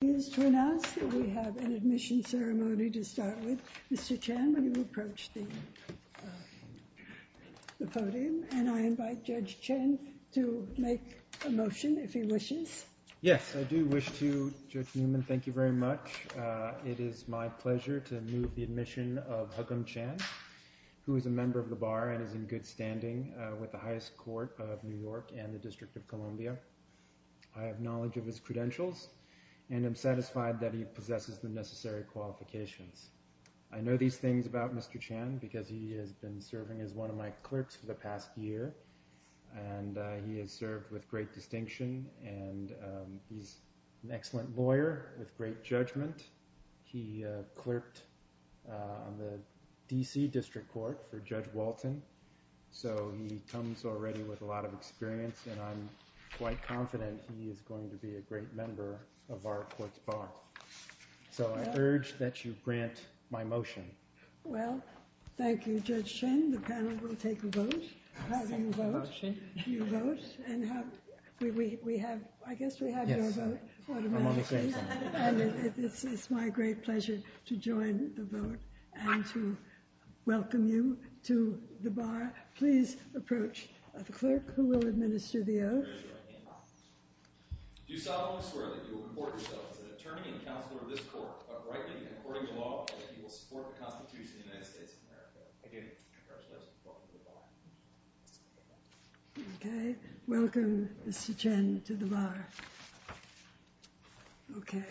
He is to announce that we have an admission ceremony to start with. Mr. Chan, will you approach the podium? And I invite Judge Chen to make a motion, if he wishes. Yes, I do wish to. Judge Newman, thank you very much. It is my pleasure to move the admission of Huggum Chan, who is a member of the Bar and is in good standing with the highest court of New York and the District of Columbia. I have knowledge of his credentials and am satisfied that he possesses the necessary qualifications. I know these things about Mr. Chan because he has been serving as one of my clerks for the past year, and he has served with great distinction, and he's an excellent lawyer with great judgment. He clerked on the D.C. District Court for Judge Walton, so he comes already with a lot of experience, and I'm quite confident he is going to be a great member of our court's Bar. So I urge that you grant my motion. Well, thank you, Judge Chen. The panel will take a vote. I second the motion. You vote. And we have, I guess we have your vote. Yes, I'm on the same side. And it's my great pleasure to join the vote and to welcome you to the Bar. Please approach the clerk who will administer the oath. Do solemnly swear that you will report yourself as an attorney and counselor of this court, but rightly, according to law, that you will support the Constitution of the United States of America. Again, congratulations. Welcome to the Bar. Okay. Welcome, Mr. Chen, to the Bar. Okay.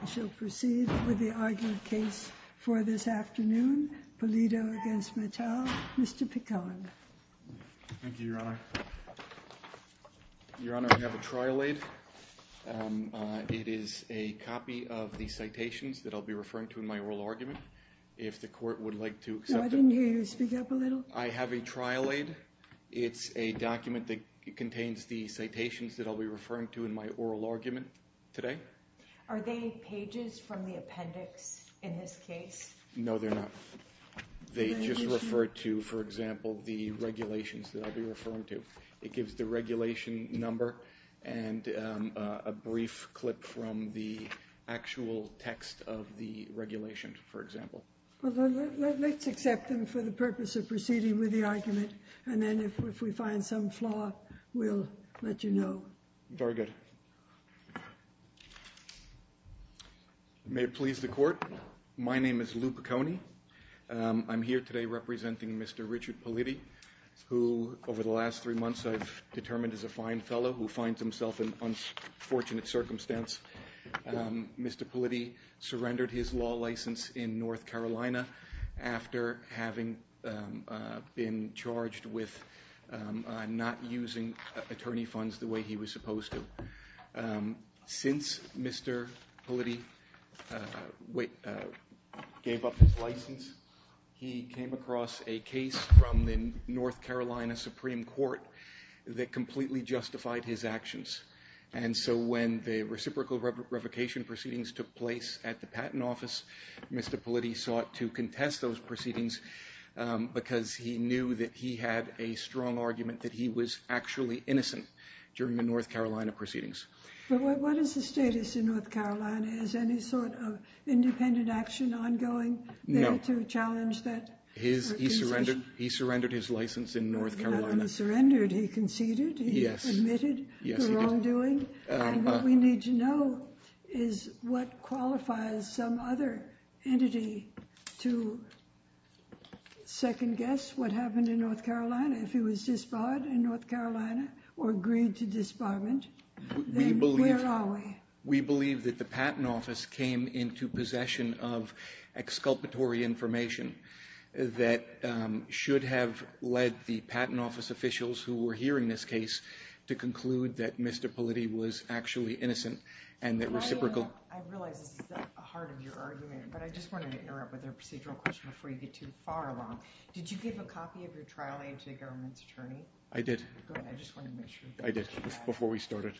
We shall proceed with the argument case for this afternoon. Pulido against Mattel. Mr. Picon. Thank you, Your Honor. Your Honor, I have a trial aid. It is a copy of the citations that I'll be referring to in my oral argument. If the court would like to accept it. No, I didn't hear you speak up a little. I have a trial aid. It's a document that contains the citations that I'll be referring to in my oral argument today. Are they pages from the appendix in this case? No, they're not. They just refer to, for example, the regulations that I'll be referring to. It gives the regulation number and a brief clip from the actual text of the regulation, for example. Let's accept them for the purpose of proceeding with the argument. And then if we find some flaw, we'll let you know. Very good. May it please the court. My name is Luke Piconi. I'm here today representing Mr. Richard Pulido, who over the last three months I've determined is a fine fellow who finds himself in unfortunate circumstance. Mr. Pulido surrendered his law license in North Carolina after having been charged with not using attorney funds the way he was supposed to. Since Mr. Pulido gave up his license, he came across a case from the North Carolina Supreme Court that completely justified his actions. And so when the reciprocal revocation proceedings took place at the Patent Office, Mr. Pulido sought to contest those proceedings because he knew that he had a strong argument that he was actually innocent during the North Carolina proceedings. But what is the status in North Carolina? Is any sort of independent action ongoing there to challenge that? He surrendered his license in North Carolina. He surrendered. He conceded. He admitted the wrongdoing. And what we need to know is what qualifies some other entity to second guess what happened in North Carolina. If he was disbarred in North Carolina or agreed to disbarment, then where are we? We believe that the Patent Office came into possession of exculpatory information that should have led the Patent Office officials who were hearing this case to conclude that Mr. Pulido was actually innocent. I realize this is the heart of your argument, but I just wanted to interrupt with a procedural question before you get too far along. Did you give a copy of your trial aid to the government's attorney? I did. Go ahead, I just wanted to make sure. I did, before we started.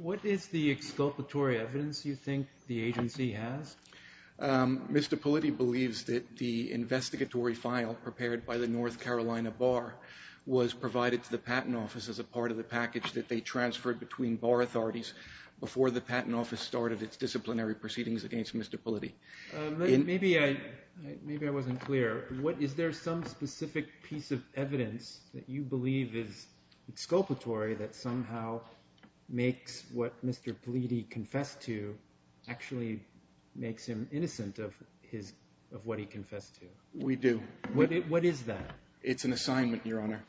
What is the exculpatory evidence you think the agency has? Mr. Pulido believes that the investigatory file prepared by the North Carolina Bar was provided to the Patent Office as a part of the package that they transferred between Bar authorities before the Patent Office started its disciplinary proceedings against Mr. Pulido. Maybe I wasn't clear. Is there some specific piece of evidence that you believe is exculpatory that somehow makes what Mr. Pulido confessed to actually make him innocent of what he confessed to? We do. What is that? It's an assignment, Your Honor.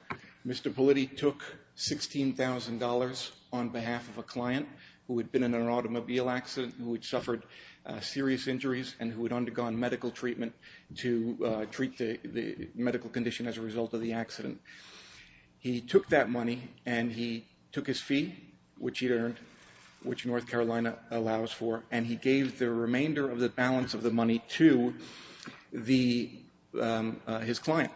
Mr. Pulido took $16,000 on behalf of a client who had been in an automobile accident, who had suffered serious injuries and who had undergone medical treatment to treat the medical condition as a result of the accident. He took that money and he took his fee, which he'd earned, which North Carolina allows for, and he gave the remainder of the balance of the money to the his client.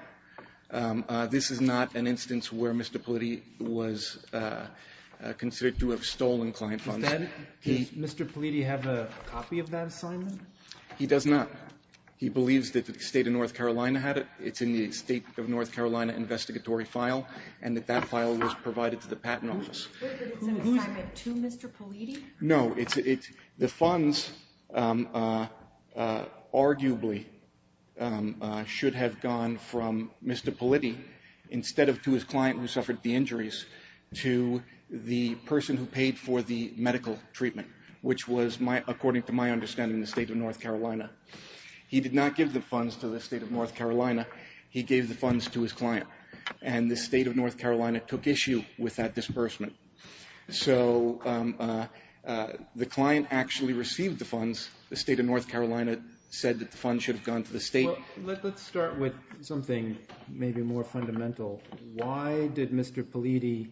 This is not an instance where Mr. Pulido was considered to have stolen client funds. Instead, does Mr. Pulido have a copy of that assignment? He does not. He believes that the State of North Carolina had it. It's in the State of North Carolina investigatory file and that that file was provided to the Patent Office. Was it an assignment to Mr. Pulido? No. The funds arguably should have gone from Mr. Pulido, instead of to his client who suffered the injuries, to the person who paid for the medical treatment, which was, according to my understanding, the State of North Carolina. He did not give the funds to the State of North Carolina. He gave the funds to his client, and the State of North Carolina took issue with that disbursement. So the client actually received the funds. The State of North Carolina said that the funds should have gone to the State. Let's start with something maybe more fundamental. Why did Mr. Pulido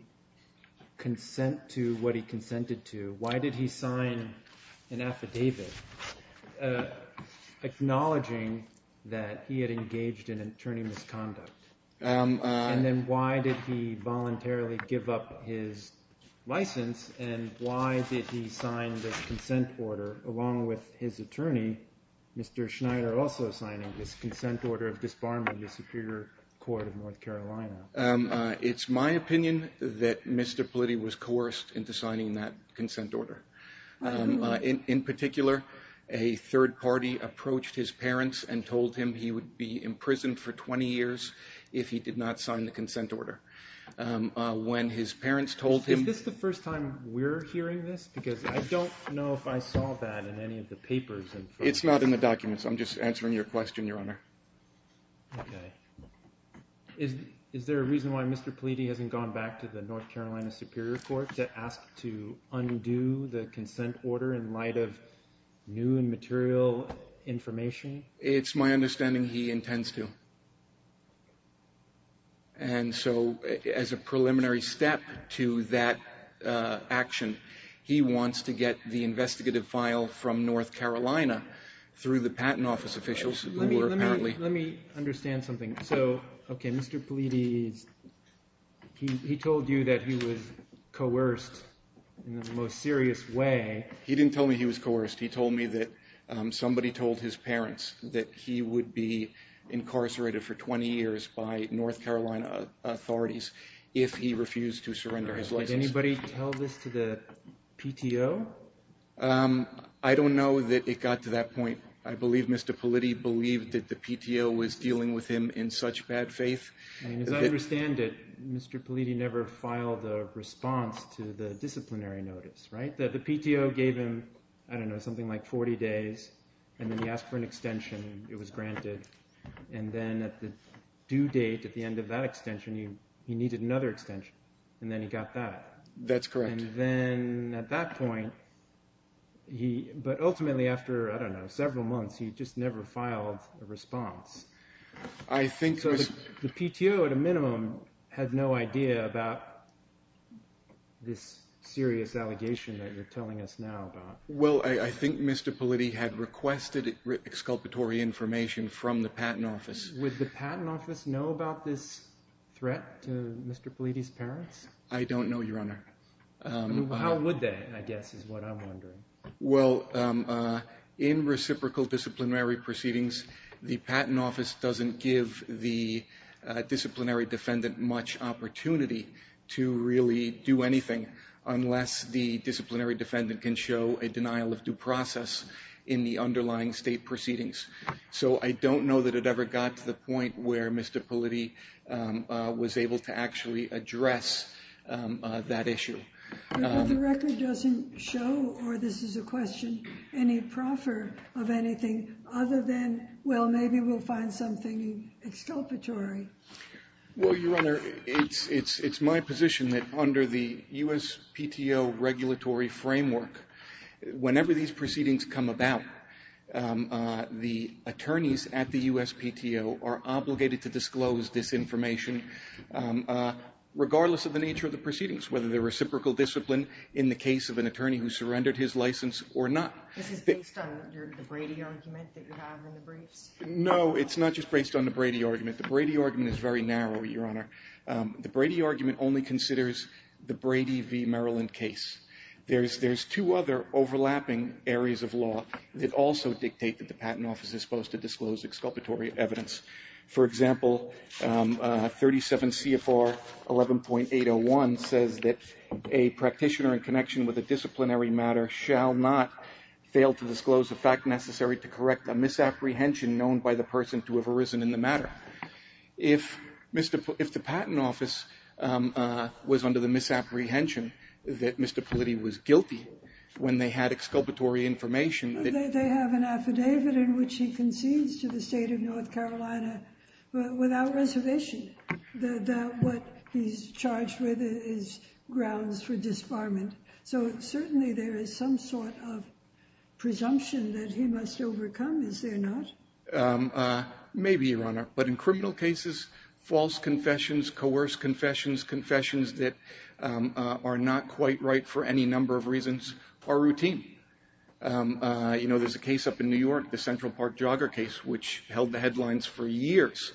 consent to what he consented to? Why did he sign an affidavit acknowledging that he had engaged in attorney misconduct? And then why did he voluntarily give up his license, and why did he sign the consent order along with his attorney, Mr. Schneider, also signing this consent order of disbarment of the Superior Court of North Carolina? It's my opinion that Mr. Pulido was coerced into signing that consent order. In particular, a third party approached his parents and told him he would be imprisoned for 20 years if he did not sign the consent order. Is this the first time we're hearing this? Because I don't know if I saw that in any of the papers. It's not in the documents. I'm just answering your question, Your Honor. Okay. Is there a reason why Mr. Pulido hasn't gone back to the North Carolina Superior Court to ask to undo the consent order in light of new and material information? It's my understanding he intends to. And so as a preliminary step to that action, he wants to get the investigative file from North Carolina through the Patent Office officials, who are apparently Let me understand something. So, okay, Mr. Pulido, he told you that he was coerced in the most serious way. He didn't tell me he was coerced. He told me that somebody told his parents that he would be incarcerated for 20 years by North Carolina authorities if he refused to surrender his license. Did anybody tell this to the PTO? I don't know that it got to that point. I believe Mr. Pulido believed that the PTO was dealing with him in such bad faith. As I understand it, Mr. Pulido never filed a response to the disciplinary notice, right? The PTO gave him, I don't know, something like 40 days, and then he asked for an extension. It was granted. And then at the due date, at the end of that extension, he needed another extension. And then he got that. That's correct. And then at that point, but ultimately after, I don't know, several months, he just never filed a response. So the PTO, at a minimum, had no idea about this serious allegation that you're telling us now about. Well, I think Mr. Pulido had requested exculpatory information from the Patent Office. Would the Patent Office know about this threat to Mr. Pulido's parents? I don't know, Your Honor. How would they, I guess, is what I'm wondering. Well, in reciprocal disciplinary proceedings, the Patent Office doesn't give the disciplinary defendant much opportunity to really do anything unless the disciplinary defendant can show a denial of due process in the underlying state proceedings. So I don't know that it ever got to the point where Mr. Pulido was able to actually address that issue. But the record doesn't show, or this is a question, any proffer of anything other than, well, maybe we'll find something exculpatory. Well, Your Honor, it's my position that under the USPTO regulatory framework, whenever these proceedings come about, the attorneys at the USPTO are obligated to disclose this information, regardless of the nature of the proceedings, whether they're reciprocal discipline in the case of an attorney who surrendered his license or not. This is based on the Brady argument that you have in the briefs? No, it's not just based on the Brady argument. The Brady argument is very narrow, Your Honor. The Brady argument only considers the Brady v. Maryland case. There's two other overlapping areas of law that also dictate that the Patent Office is supposed to disclose exculpatory evidence. For example, 37 CFR 11.801 says that a practitioner in connection with a disciplinary matter shall not fail to disclose the fact necessary to correct a misapprehension known by the person to have arisen in the matter. If the Patent Office was under the misapprehension that Mr. Politti was guilty when they had exculpatory information... They have an affidavit in which he concedes to the state of North Carolina without reservation that what he's charged with is grounds for disbarment. So certainly there is some sort of presumption that he must overcome, is there not? Maybe, Your Honor. But in criminal cases, false confessions, coerced confessions, confessions that are not quite right for any number of reasons are routine. There's a case up in New York, the Central Park jogger case, which held the headlines for years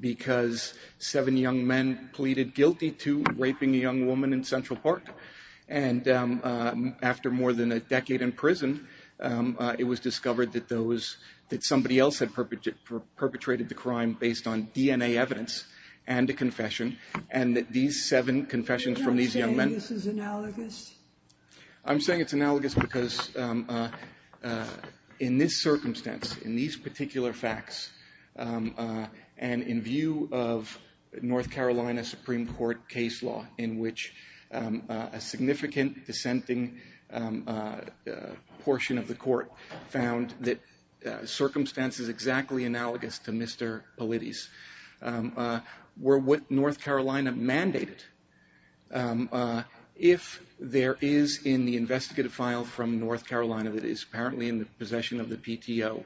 because seven young men pleaded guilty to raping a young woman in Central Park. And after more than a decade in prison, it was discovered that somebody else had perpetrated the crime based on DNA evidence and a confession, and that these seven confessions from these young men... You're not saying this is analogous? I'm saying it's analogous because in this circumstance, in these particular facts, and in view of North Carolina Supreme Court case law, in which a significant dissenting portion of the court found that circumstances exactly analogous to Mr. Politis were what North Carolina mandated. If there is in the investigative file from North Carolina that is apparently in the possession of the PTO,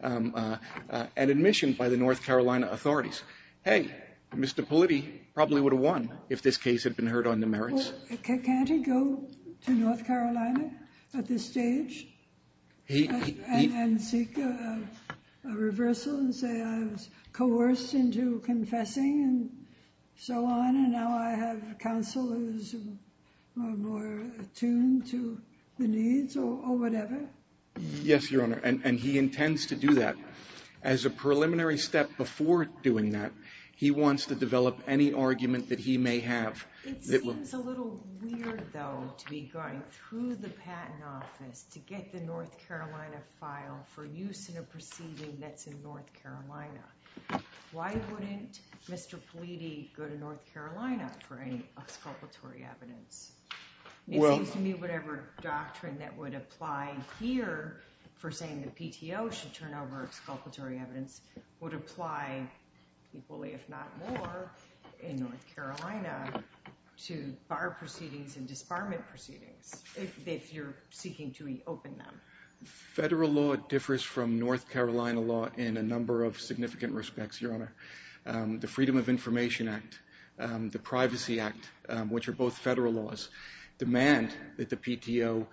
and admission by the North Carolina authorities, hey, Mr. Politis probably would have won if this case had been heard on the merits. Can't he go to North Carolina at this stage and seek a reversal and say I was coerced into confessing and so on, and now I have counsel who is more attuned to the needs or whatever? Yes, Your Honor, and he intends to do that. As a preliminary step before doing that, he wants to develop any argument that he may have... It seems a little weird, though, to be going through the Patent Office to get the North Carolina file for use in a proceeding that's in North Carolina. Why wouldn't Mr. Politis go to North Carolina for any exculpatory evidence? It seems to me whatever doctrine that would apply here for saying the PTO should turn over exculpatory evidence would apply equally, if not more, in North Carolina to bar proceedings and disbarment proceedings if you're seeking to reopen them. Federal law differs from North Carolina law in a number of significant respects, Your Honor. The Freedom of Information Act, the Privacy Act, which are both federal laws, demand that the PTO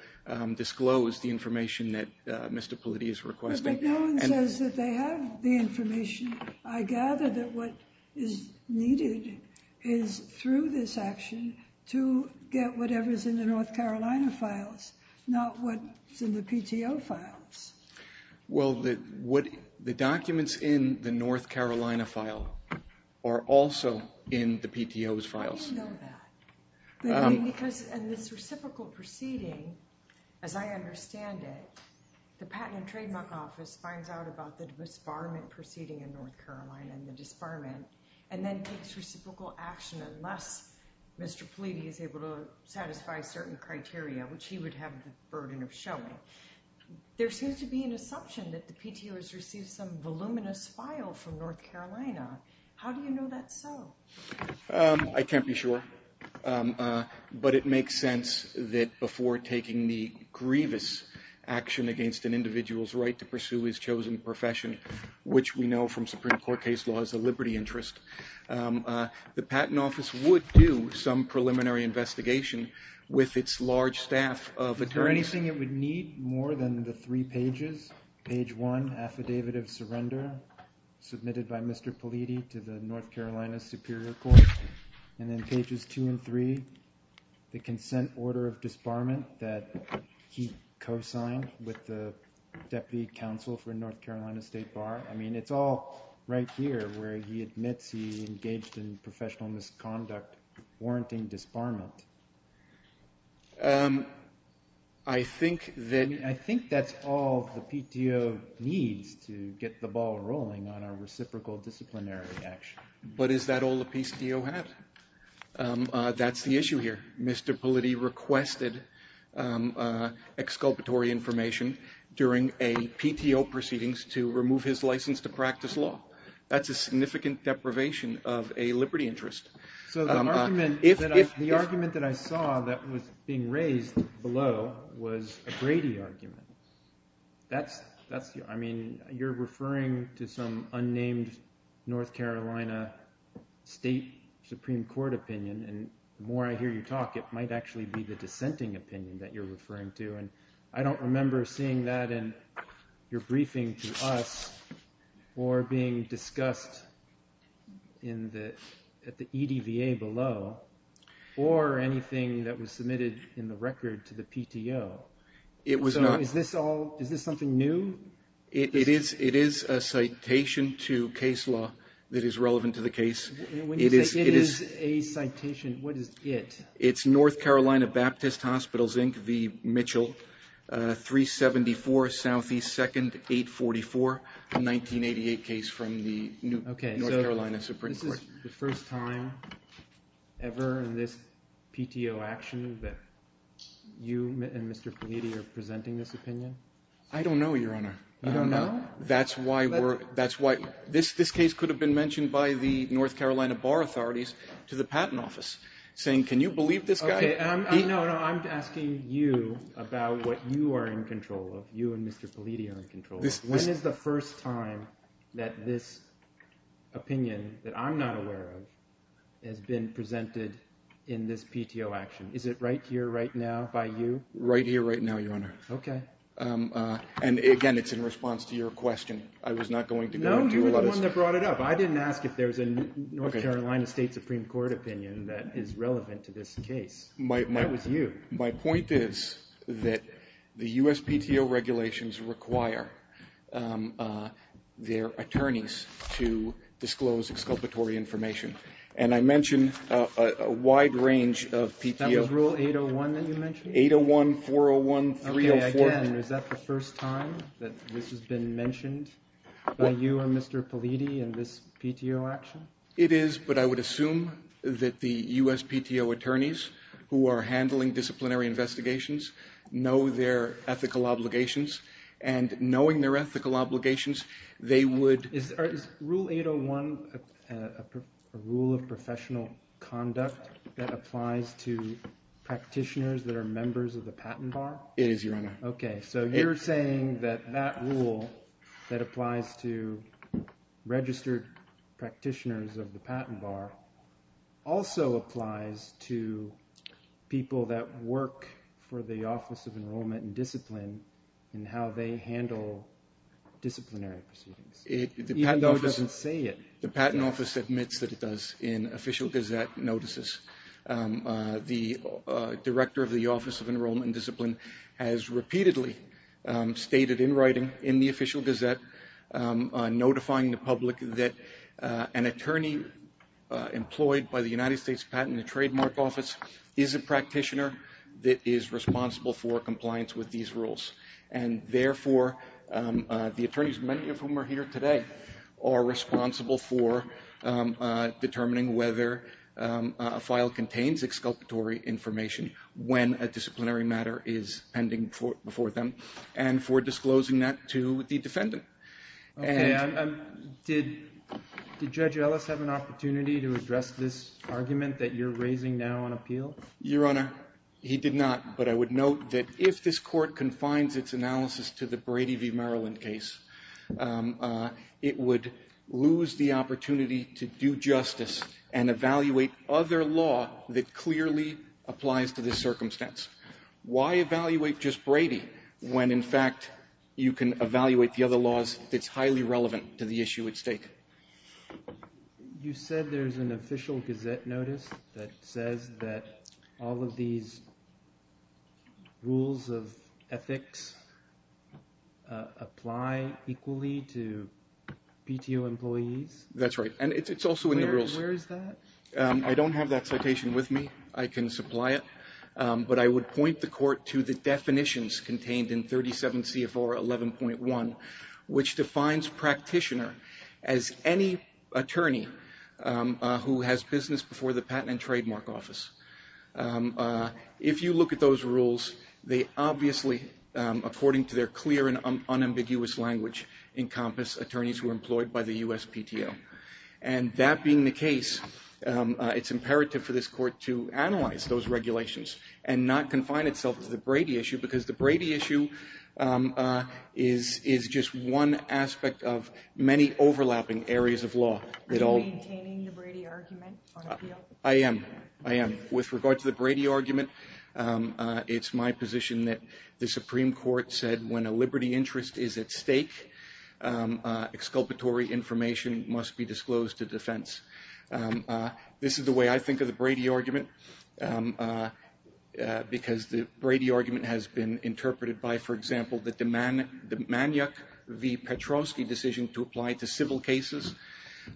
disclose the information that Mr. Politis is requesting. But no one says that they have the information. I gather that what is needed is through this action to get whatever is in the North Carolina files, not what's in the PTO files. Well, the documents in the North Carolina file are also in the PTO's files. How do you know that? Because in this reciprocal proceeding, as I understand it, the Patent and Trademark Office finds out about the disbarment proceeding in North Carolina and the disbarment and then takes reciprocal action unless Mr. Politis is able to satisfy certain criteria, which he would have the burden of showing. There seems to be an assumption that the PTO has received some voluminous file from North Carolina. How do you know that's so? I can't be sure, but it makes sense that before taking the grievous action against an individual's right to pursue his chosen profession, which we know from Supreme Court case law is a liberty interest, the Patent Office would do some preliminary investigation with its large staff of attorneys. Is there anything it would need more than the three pages? Page one, Affidavit of Surrender submitted by Mr. Politis to the North Carolina Superior Court, and then pages two and three, the consent order of disbarment that he co-signed with the Deputy Counsel for North Carolina State Bar. I mean, it's all right here where he admits he engaged in professional misconduct warranting disbarment. I think that's all the PTO needs to get the ball rolling on a reciprocal disciplinary action. But is that all the PTO has? That's the issue here. Mr. Politis requested exculpatory information during a PTO proceedings to remove his license to practice law. That's a significant deprivation of a liberty interest. So the argument that I saw that was being raised below was a Brady argument. I mean, you're referring to some unnamed North Carolina State Supreme Court opinion, and the more I hear you talk, it might actually be the dissenting opinion that you're referring to. And I don't remember seeing that in your briefing to us or being discussed at the EDVA below or anything that was submitted in the record to the PTO. So is this something new? It is a citation to case law that is relevant to the case. When you say it is a citation, what is it? It's North Carolina Baptist Hospitals, Inc., v. Mitchell, 374 Southeast 2nd, 844, a 1988 case from the North Carolina Supreme Court. Okay, so this is the first time ever in this PTO action that you and Mr. Politis are presenting this opinion? I don't know, Your Honor. You don't know? That's why this case could have been mentioned by the North Carolina Bar Authorities to the Patent Office, saying, can you believe this guy? Okay. No, no, I'm asking you about what you are in control of, you and Mr. Politis are in control of. When is the first time that this opinion that I'm not aware of has been presented in this PTO action? Is it right here, right now by you? Right here, right now, Your Honor. Okay. And, again, it's in response to your question. I was not going to go into a lot of this. No, you were the one that brought it up. I didn't ask if there was a North Carolina State Supreme Court opinion that is relevant to this case. That was you. My point is that the U.S. PTO regulations require their attorneys to disclose exculpatory information. And I mentioned a wide range of PTOs. That was Rule 801 that you mentioned? 801, 401, 304. Okay, again, is that the first time that this has been mentioned by you and Mr. Politis in this PTO action? It is, but I would assume that the U.S. PTO attorneys who are handling disciplinary investigations know their ethical obligations. And knowing their ethical obligations, they would – Is Rule 801 a rule of professional conduct that applies to practitioners that are members of the patent bar? It is, Your Honor. Okay, so you're saying that that rule that applies to registered practitioners of the patent bar also applies to people that work for the Office of Enrollment and Discipline in how they handle disciplinary proceedings? The patent office admits that it does in official gazette notices. The director of the Office of Enrollment and Discipline has repeatedly stated in writing in the official gazette, notifying the public that an attorney employed by the United States Patent and Trademark Office is a practitioner that is responsible for compliance with these rules. And therefore, the attorneys, many of whom are here today, are responsible for determining whether a file contains exculpatory information when a disciplinary matter is pending before them, and for disclosing that to the defendant. Okay, did Judge Ellis have an opportunity to address this argument that you're raising now on appeal? Your Honor, he did not. But I would note that if this Court confines its analysis to the Brady v. Maryland case, it would lose the opportunity to do justice and evaluate other law that clearly applies to this circumstance. Why evaluate just Brady when, in fact, you can evaluate the other laws that's highly relevant to the issue at stake? You said there's an official gazette notice that says that all of these rules of ethics apply equally to PTO employees? That's right, and it's also in the rules. Where is that? I don't have that citation with me. I can supply it. But I would point the Court to the definitions contained in 37 C.F.R. 11.1, which defines practitioner as any attorney who has business before the patent and trademark office. If you look at those rules, they obviously, according to their clear and unambiguous language, encompass attorneys who are employed by the U.S. PTO. And that being the case, it's imperative for this Court to analyze those regulations and not confine itself to the Brady issue, because the Brady issue is just one aspect of many overlapping areas of law. Are you maintaining the Brady argument on appeal? I am. I am. With regard to the Brady argument, it's my position that the Supreme Court said when a liberty interest is at stake, exculpatory information must be disclosed to defense. This is the way I think of the Brady argument, because the Brady argument has been interpreted by, for example, the Maniac v. Petrovsky decision to apply to civil cases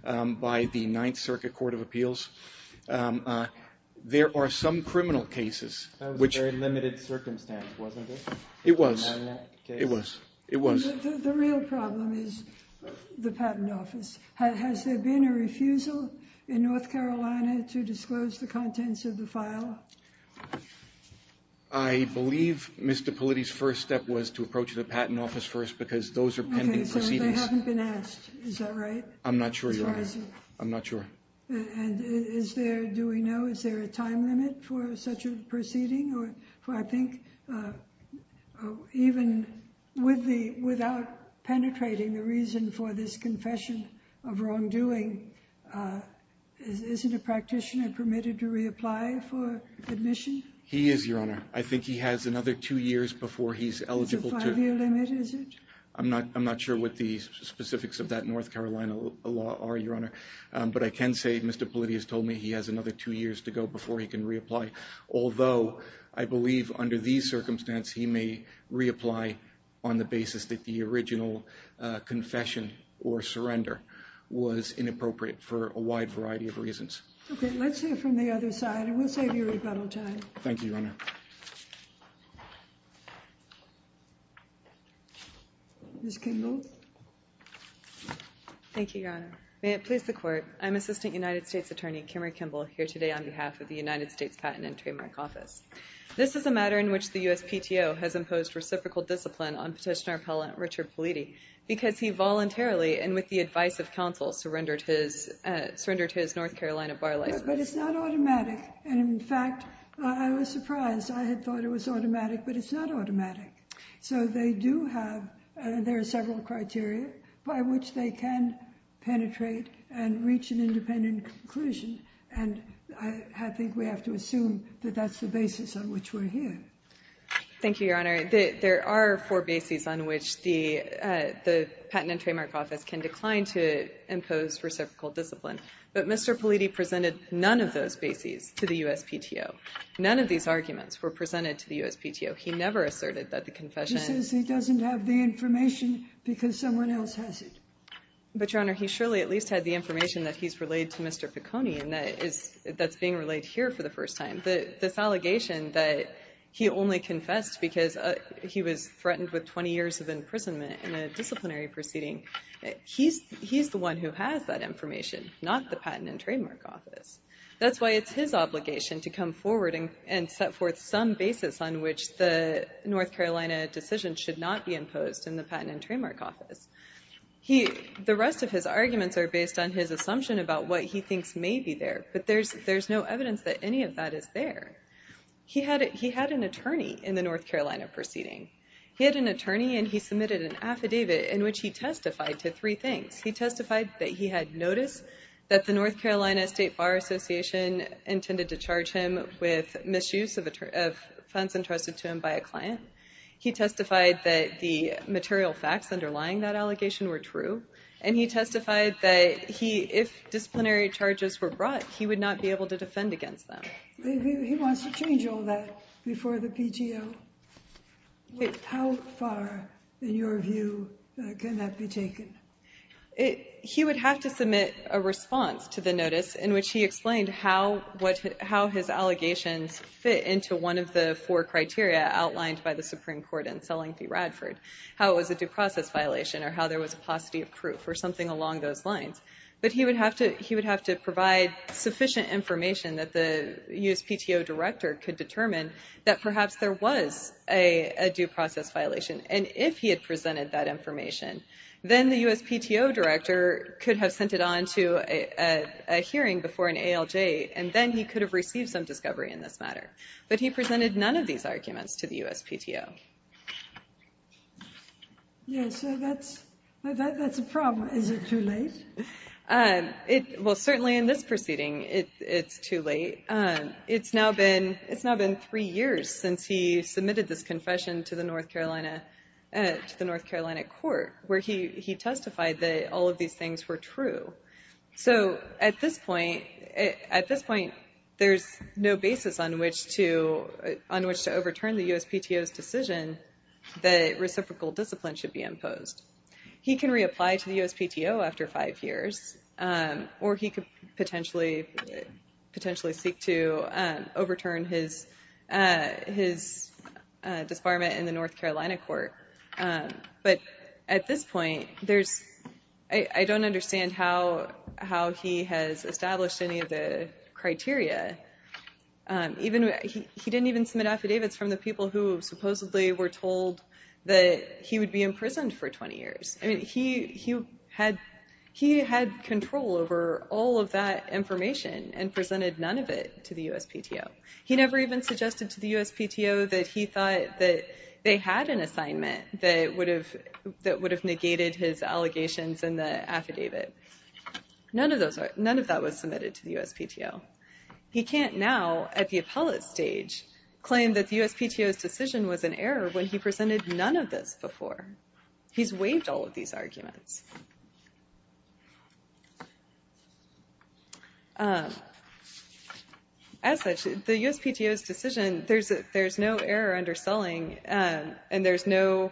by the Ninth Circuit Court of Appeals. There are some criminal cases which- That was a very limited circumstance, wasn't it? It was. It was. It was. The real problem is the patent office. Has there been a refusal in North Carolina to disclose the contents of the file? I believe Mr. Politti's first step was to approach the patent office first, because those are pending proceedings. Okay, so they haven't been asked. Is that right? I'm not sure, Your Honor. I'm not sure. And is there, do we know, is there a time limit for such a proceeding? Even without penetrating the reason for this confession of wrongdoing, isn't a practitioner permitted to reapply for admission? He is, Your Honor. I think he has another two years before he's eligible to- Is there a five-year limit, is it? I'm not sure what the specifics of that North Carolina law are, Your Honor. But I can say Mr. Politti has told me he has another two years to go before he can reapply. Although, I believe under these circumstances, he may reapply on the basis that the original confession or surrender was inappropriate for a wide variety of reasons. Okay, let's hear from the other side, and we'll save you rebuttal time. Thank you, Your Honor. Ms. Kimball? Thank you, Your Honor. May it please the Court, I'm Assistant United States Attorney Kimmery Kimball here today on behalf of the United States Patent and Trademark Office. This is a matter in which the USPTO has imposed reciprocal discipline on Petitioner Appellant Richard Politti because he voluntarily and with the advice of counsel surrendered his North Carolina bar license. But it's not automatic. And in fact, I was surprised. I had thought it was automatic, but it's not automatic. So they do have, there are several criteria by which they can penetrate and reach an independent conclusion. And I think we have to assume that that's the basis on which we're here. Thank you, Your Honor. There are four bases on which the Patent and Trademark Office can decline to impose reciprocal discipline. But Mr. Politti presented none of those bases to the USPTO. None of these arguments were presented to the USPTO. He never asserted that the confession... He says he doesn't have the information because someone else has it. But, Your Honor, he surely at least had the information that he's relayed to Mr. Ficconi and that's being relayed here for the first time. This allegation that he only confessed because he was threatened with 20 years of imprisonment in a disciplinary proceeding, he's the one who has that information, not the Patent and Trademark Office. That's why it's his obligation to come forward and set forth some basis on which the North Carolina decision should not be imposed in the Patent and Trademark Office. The rest of his arguments are based on his assumption about what he thinks may be there, but there's no evidence that any of that is there. He had an attorney in the North Carolina proceeding. He had an attorney and he submitted an affidavit in which he testified to three things. He testified that he had noticed that the North Carolina State Bar Association intended to charge him with misuse of funds entrusted to him by a client. He testified that the material facts underlying that allegation were true. And he testified that if disciplinary charges were brought, he would not be able to defend against them. He wants to change all that before the PTO. How far, in your view, can that be taken? He would have to submit a response to the notice in which he explained how his allegations fit into one of the four criteria outlined by the Supreme Court in Selling v. Radford. How it was a due process violation or how there was a paucity of proof or something along those lines. But he would have to provide sufficient information that the USPTO director could determine that perhaps there was a due process violation. And if he had presented that information, then the USPTO director could have sent it on to a hearing before an ALJ. And then he could have received some discovery in this matter. But he presented none of these arguments to the USPTO. Yes, so that's a problem. Is it too late? Well, certainly in this proceeding, it's too late. It's now been three years since he submitted this confession to the North Carolina court where he testified that all of these things were true. So at this point, there's no basis on which to overturn the USPTO's decision that reciprocal discipline should be imposed. He can reapply to the USPTO after five years or he could potentially seek to overturn his disbarment in the North Carolina court. But at this point, I don't understand how he has established any of the criteria. He didn't even submit affidavits from the people who supposedly were told that he would be imprisoned for 20 years. I mean, he had control over all of that information and presented none of it to the USPTO. He never even suggested to the USPTO that he thought that they had an assignment that would have negated his allegations in the affidavit. None of that was submitted to the USPTO. He can't now, at the appellate stage, claim that the USPTO's decision was an error when he presented none of this before. He's waived all of these arguments. As such, the USPTO's decision, there's no error under selling and there's no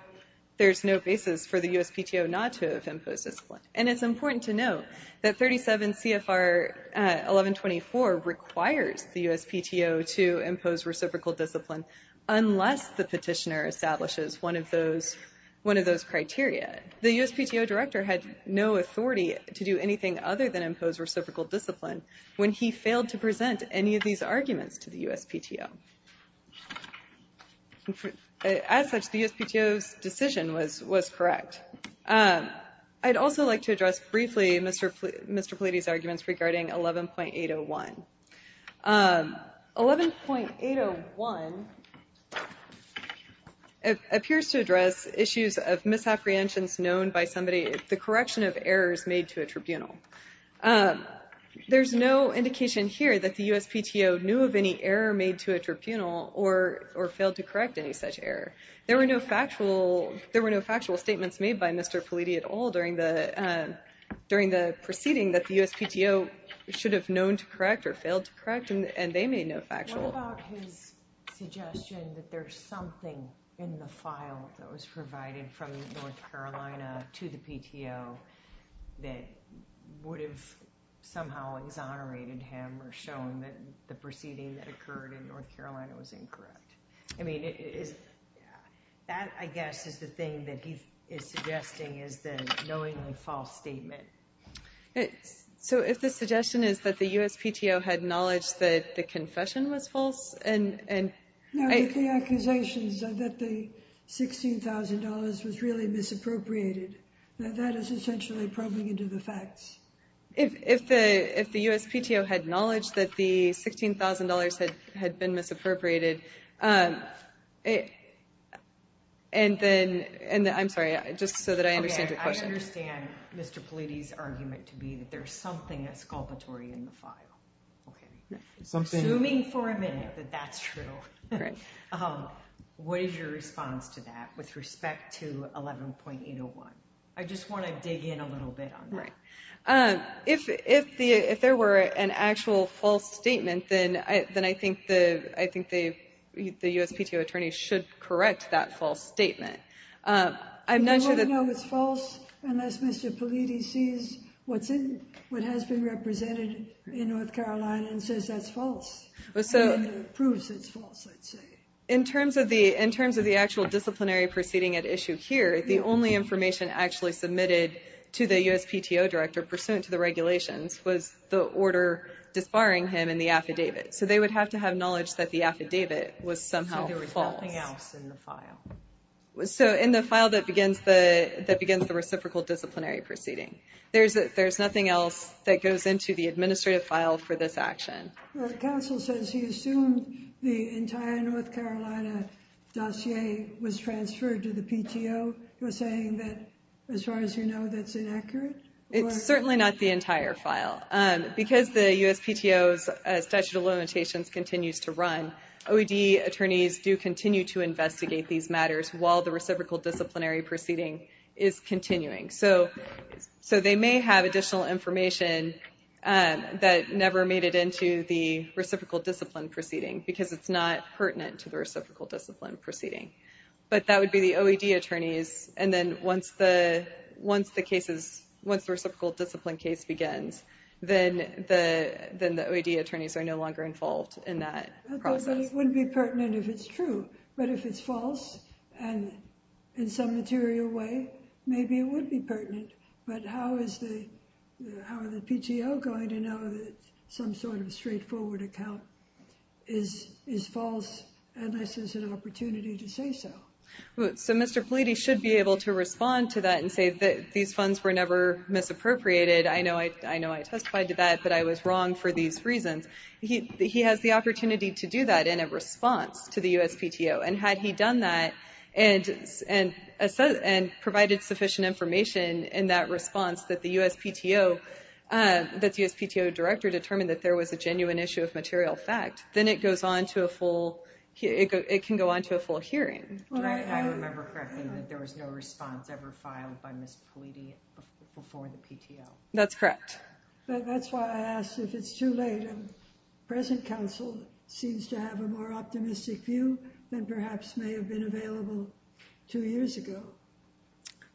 basis for the USPTO not to have imposed discipline. And it's important to note that 37 CFR 1124 requires the USPTO to impose reciprocal discipline unless the petitioner establishes one of those criteria. The USPTO director had no authority to do anything other than impose reciprocal discipline when he failed to present any of these arguments to the USPTO. As such, the USPTO's decision was correct. I'd also like to address briefly Mr. Politi's arguments regarding 11.801. 11.801 appears to address issues of misapprehensions known by somebody, the correction of errors made to a tribunal. There's no indication here that the USPTO knew of any error made to a tribunal or failed to correct any such error. There were no factual statements made by Mr. Politi at all during the proceeding that the USPTO should have known to correct or failed to correct and they made no factual. What about his suggestion that there's something in the file that was provided from North Carolina to the PTO that would have somehow exonerated him or shown that the proceeding that occurred in North Carolina was incorrect? I mean, that I guess is the thing that he is suggesting is the knowingly false statement. So if the suggestion is that the USPTO had knowledge that the confession was false and... No, but the accusations that the $16,000 was really misappropriated, that is essentially probing into the facts. If the USPTO had knowledge that the $16,000 had been misappropriated, and then... I'm sorry, just so that I understand your question. I understand Mr. Politi's argument to be that there's something exculpatory in the file. Assuming for a minute that that's true, what is your response to that with respect to 11.801? I just want to dig in a little bit on that. If there were an actual false statement, then I think the USPTO attorney should correct that false statement. I'm not sure that... They wouldn't know it's false unless Mr. Politi sees what has been represented in North Carolina and says that's false, and then proves it's false, I'd say. In terms of the actual disciplinary proceeding at issue here, the only information actually submitted to the USPTO director pursuant to the regulations was the order disbarring him in the affidavit. So they would have to have knowledge that the affidavit was somehow false. So there was nothing else in the file? So in the file that begins the reciprocal disciplinary proceeding. There's nothing else that goes into the administrative file for this action. Counsel says he assumed the entire North Carolina dossier was transferred to the PTO. You're saying that, as far as you know, that's inaccurate? It's certainly not the entire file. Because the USPTO's statute of limitations continues to run, OED attorneys do continue to investigate these matters while the reciprocal disciplinary proceeding is continuing. So they may have additional information that never made it into the reciprocal disciplinary proceeding, because it's not pertinent to the reciprocal disciplinary proceeding. But that would be the OED attorneys, and then once the reciprocal disciplinary case begins, then the OED attorneys are no longer involved in that process. It wouldn't be pertinent if it's true, but if it's false, and in some material way, maybe it would be pertinent. But how is the PTO going to know that some sort of straightforward account is false unless there's an opportunity to say so? So Mr. Politi should be able to respond to that and say that these funds were never misappropriated. I know I testified to that, but I was wrong for these reasons. He has the opportunity to do that in a response to the USPTO. And had he done that and provided sufficient information in that response that the USPTO director determined that there was a genuine issue of material fact, then it can go on to a full hearing. I remember correctly that there was no response ever filed by Ms. Politi before the PTO. That's correct. That's why I asked if it's too late. And present counsel seems to have a more optimistic view than perhaps may have been available two years ago.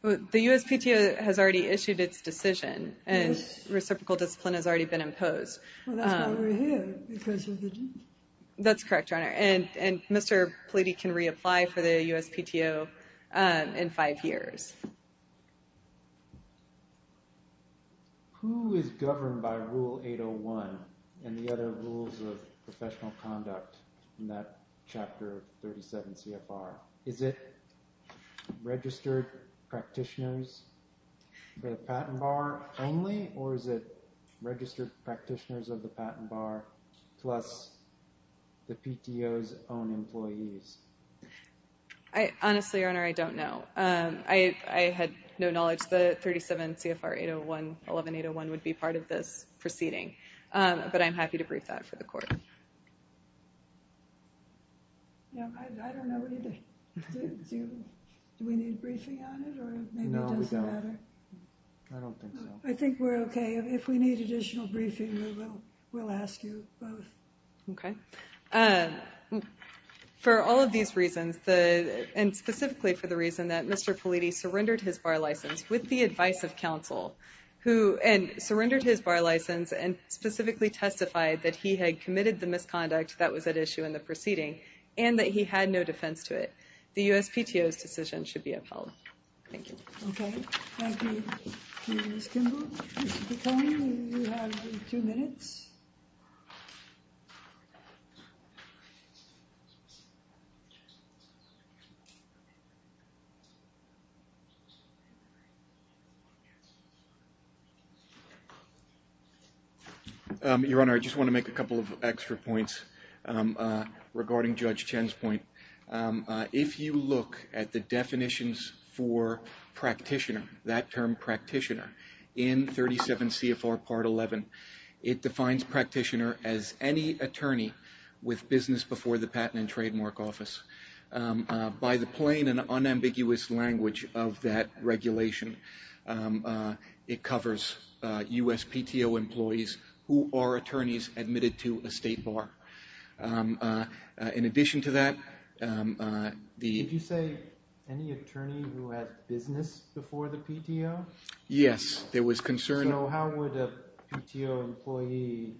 The USPTO has already issued its decision, and reciprocal discipline has already been imposed. Well, that's why we're here. That's correct, Your Honor. And Mr. Politi can reapply for the USPTO in five years. Who is governed by Rule 801 and the other rules of professional conduct in that Chapter 37 CFR? Is it registered practitioners of the patent bar only, or is it registered practitioners of the patent bar plus the PTO's own employees? Honestly, Your Honor, I don't know. I had no knowledge that 37 CFR 801, 11801 would be part of this proceeding. But I'm happy to brief that for the Court. I don't know either. Do we need briefing on it? No, we don't. I don't think so. I think we're okay. If we need additional briefing, we'll ask you both. Okay. For all of these reasons, and specifically for the reason that Mr. Politi surrendered his bar license with the advice of counsel, and surrendered his bar license and specifically testified that he had committed the misconduct that was at issue in the proceeding, and that he had no defense to it, the USPTO's decision should be upheld. Thank you. Okay. Thank you, Ms. Kimball. You have two minutes. Your Honor, I just want to make a couple of extra points regarding Judge Chen's point. If you look at the definitions for practitioner, that term practitioner, in 37 CFR Part 11, it defines practitioner as any attorney with business before the Patent and Trademark Office. By the plain and unambiguous language of that regulation, it covers USPTO employees who are attorneys admitted to a state bar. In addition to that, the- Did you say any attorney who had business before the PTO? Yes, there was concern- So how would a PTO employee,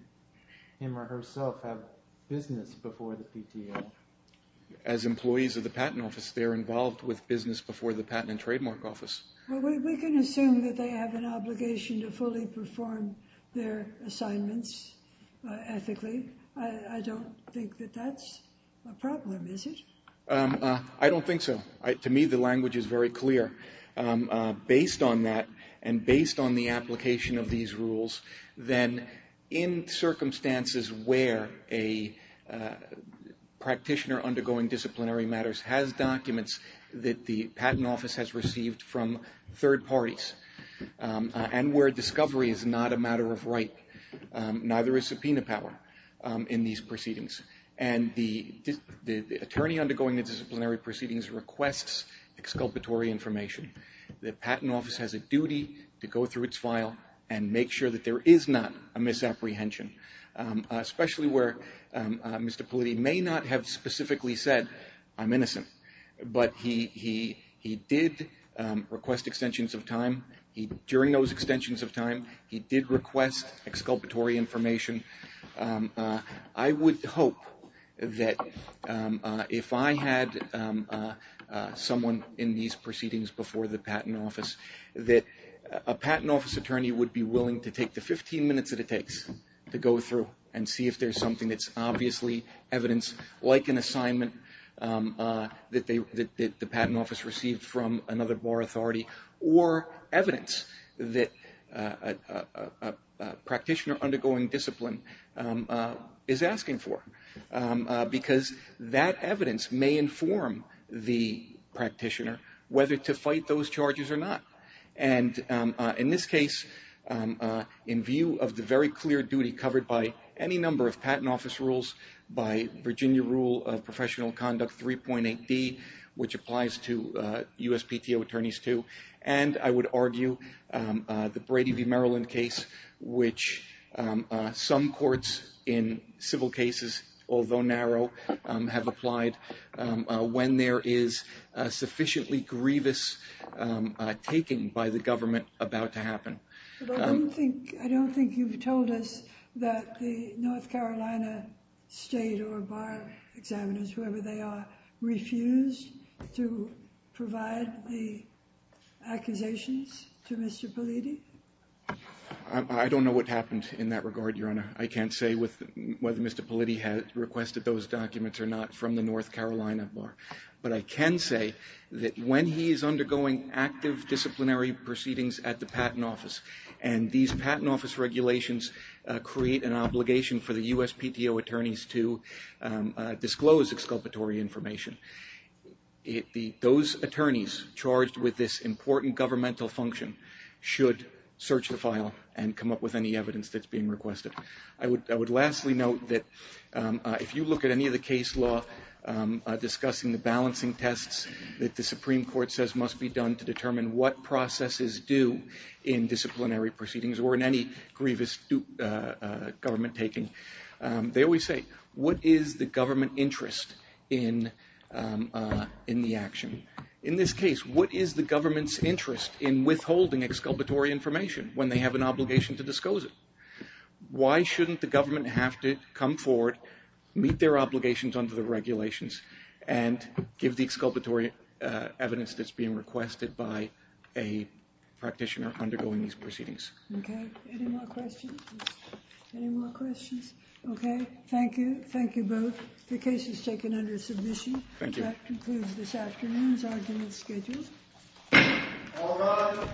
him or herself, have business before the PTO? As employees of the Patent Office, they're involved with business before the Patent and Trademark Office. Well, we can assume that they have an obligation to fully perform their assignments ethically. I don't think that that's a problem, is it? I don't think so. To me, the language is very clear. Based on that and based on the application of these rules, then in circumstances where a practitioner undergoing disciplinary matters has documents that the Patent Office has received from third parties and where discovery is not a matter of right, neither is subpoena power in these proceedings. And the attorney undergoing the disciplinary proceedings requests exculpatory information. The Patent Office has a duty to go through its file and make sure that there is not a misapprehension, especially where Mr. Politti may not have specifically said, I'm innocent, but he did request extensions of time. During those extensions of time, he did request exculpatory information. I would hope that if I had someone in these proceedings before the Patent Office, that a Patent Office attorney would be willing to take the 15 minutes that it takes to go through and see if there's something that's obviously evidence, like an assignment, that the Patent Office received from another bar authority or evidence that a practitioner undergoing discipline is asking for. Because that evidence may inform the practitioner whether to fight those charges or not. And in this case, in view of the very clear duty covered by any number of Patent Office rules, by Virginia Rule of Professional Conduct 3.8D, which applies to USPTO attorneys too, and I would argue the Brady v. Maryland case, which some courts in civil cases, although narrow, have applied when there is sufficiently grievous taking by the government about to happen. But I don't think you've told us that the North Carolina state or bar examiners, whoever they are, refused to provide the accusations to Mr. Politti? I don't know what happened in that regard, Your Honor. I can't say whether Mr. Politti had requested those documents or not from the North Carolina bar. But I can say that when he is undergoing active disciplinary proceedings at the Patent Office, and these Patent Office regulations create an obligation for the USPTO attorneys to disclose exculpatory information, those attorneys charged with this important governmental function should search the file and come up with any evidence that's being requested. I would lastly note that if you look at any of the case law discussing the balancing tests that the Supreme Court says must be done to determine what processes do in disciplinary proceedings or in any grievous government taking, they always say, what is the government interest in the action? In this case, what is the government's interest in withholding exculpatory information when they have an obligation to disclose it? Why shouldn't the government have to come forward, meet their obligations under the regulations, and give the exculpatory evidence that's being requested by a practitioner undergoing these proceedings? Okay. Any more questions? Any more questions? Okay. Thank you. Thank you both. The case is taken under submission. Thank you. That concludes this afternoon's argument scheduled. All rise.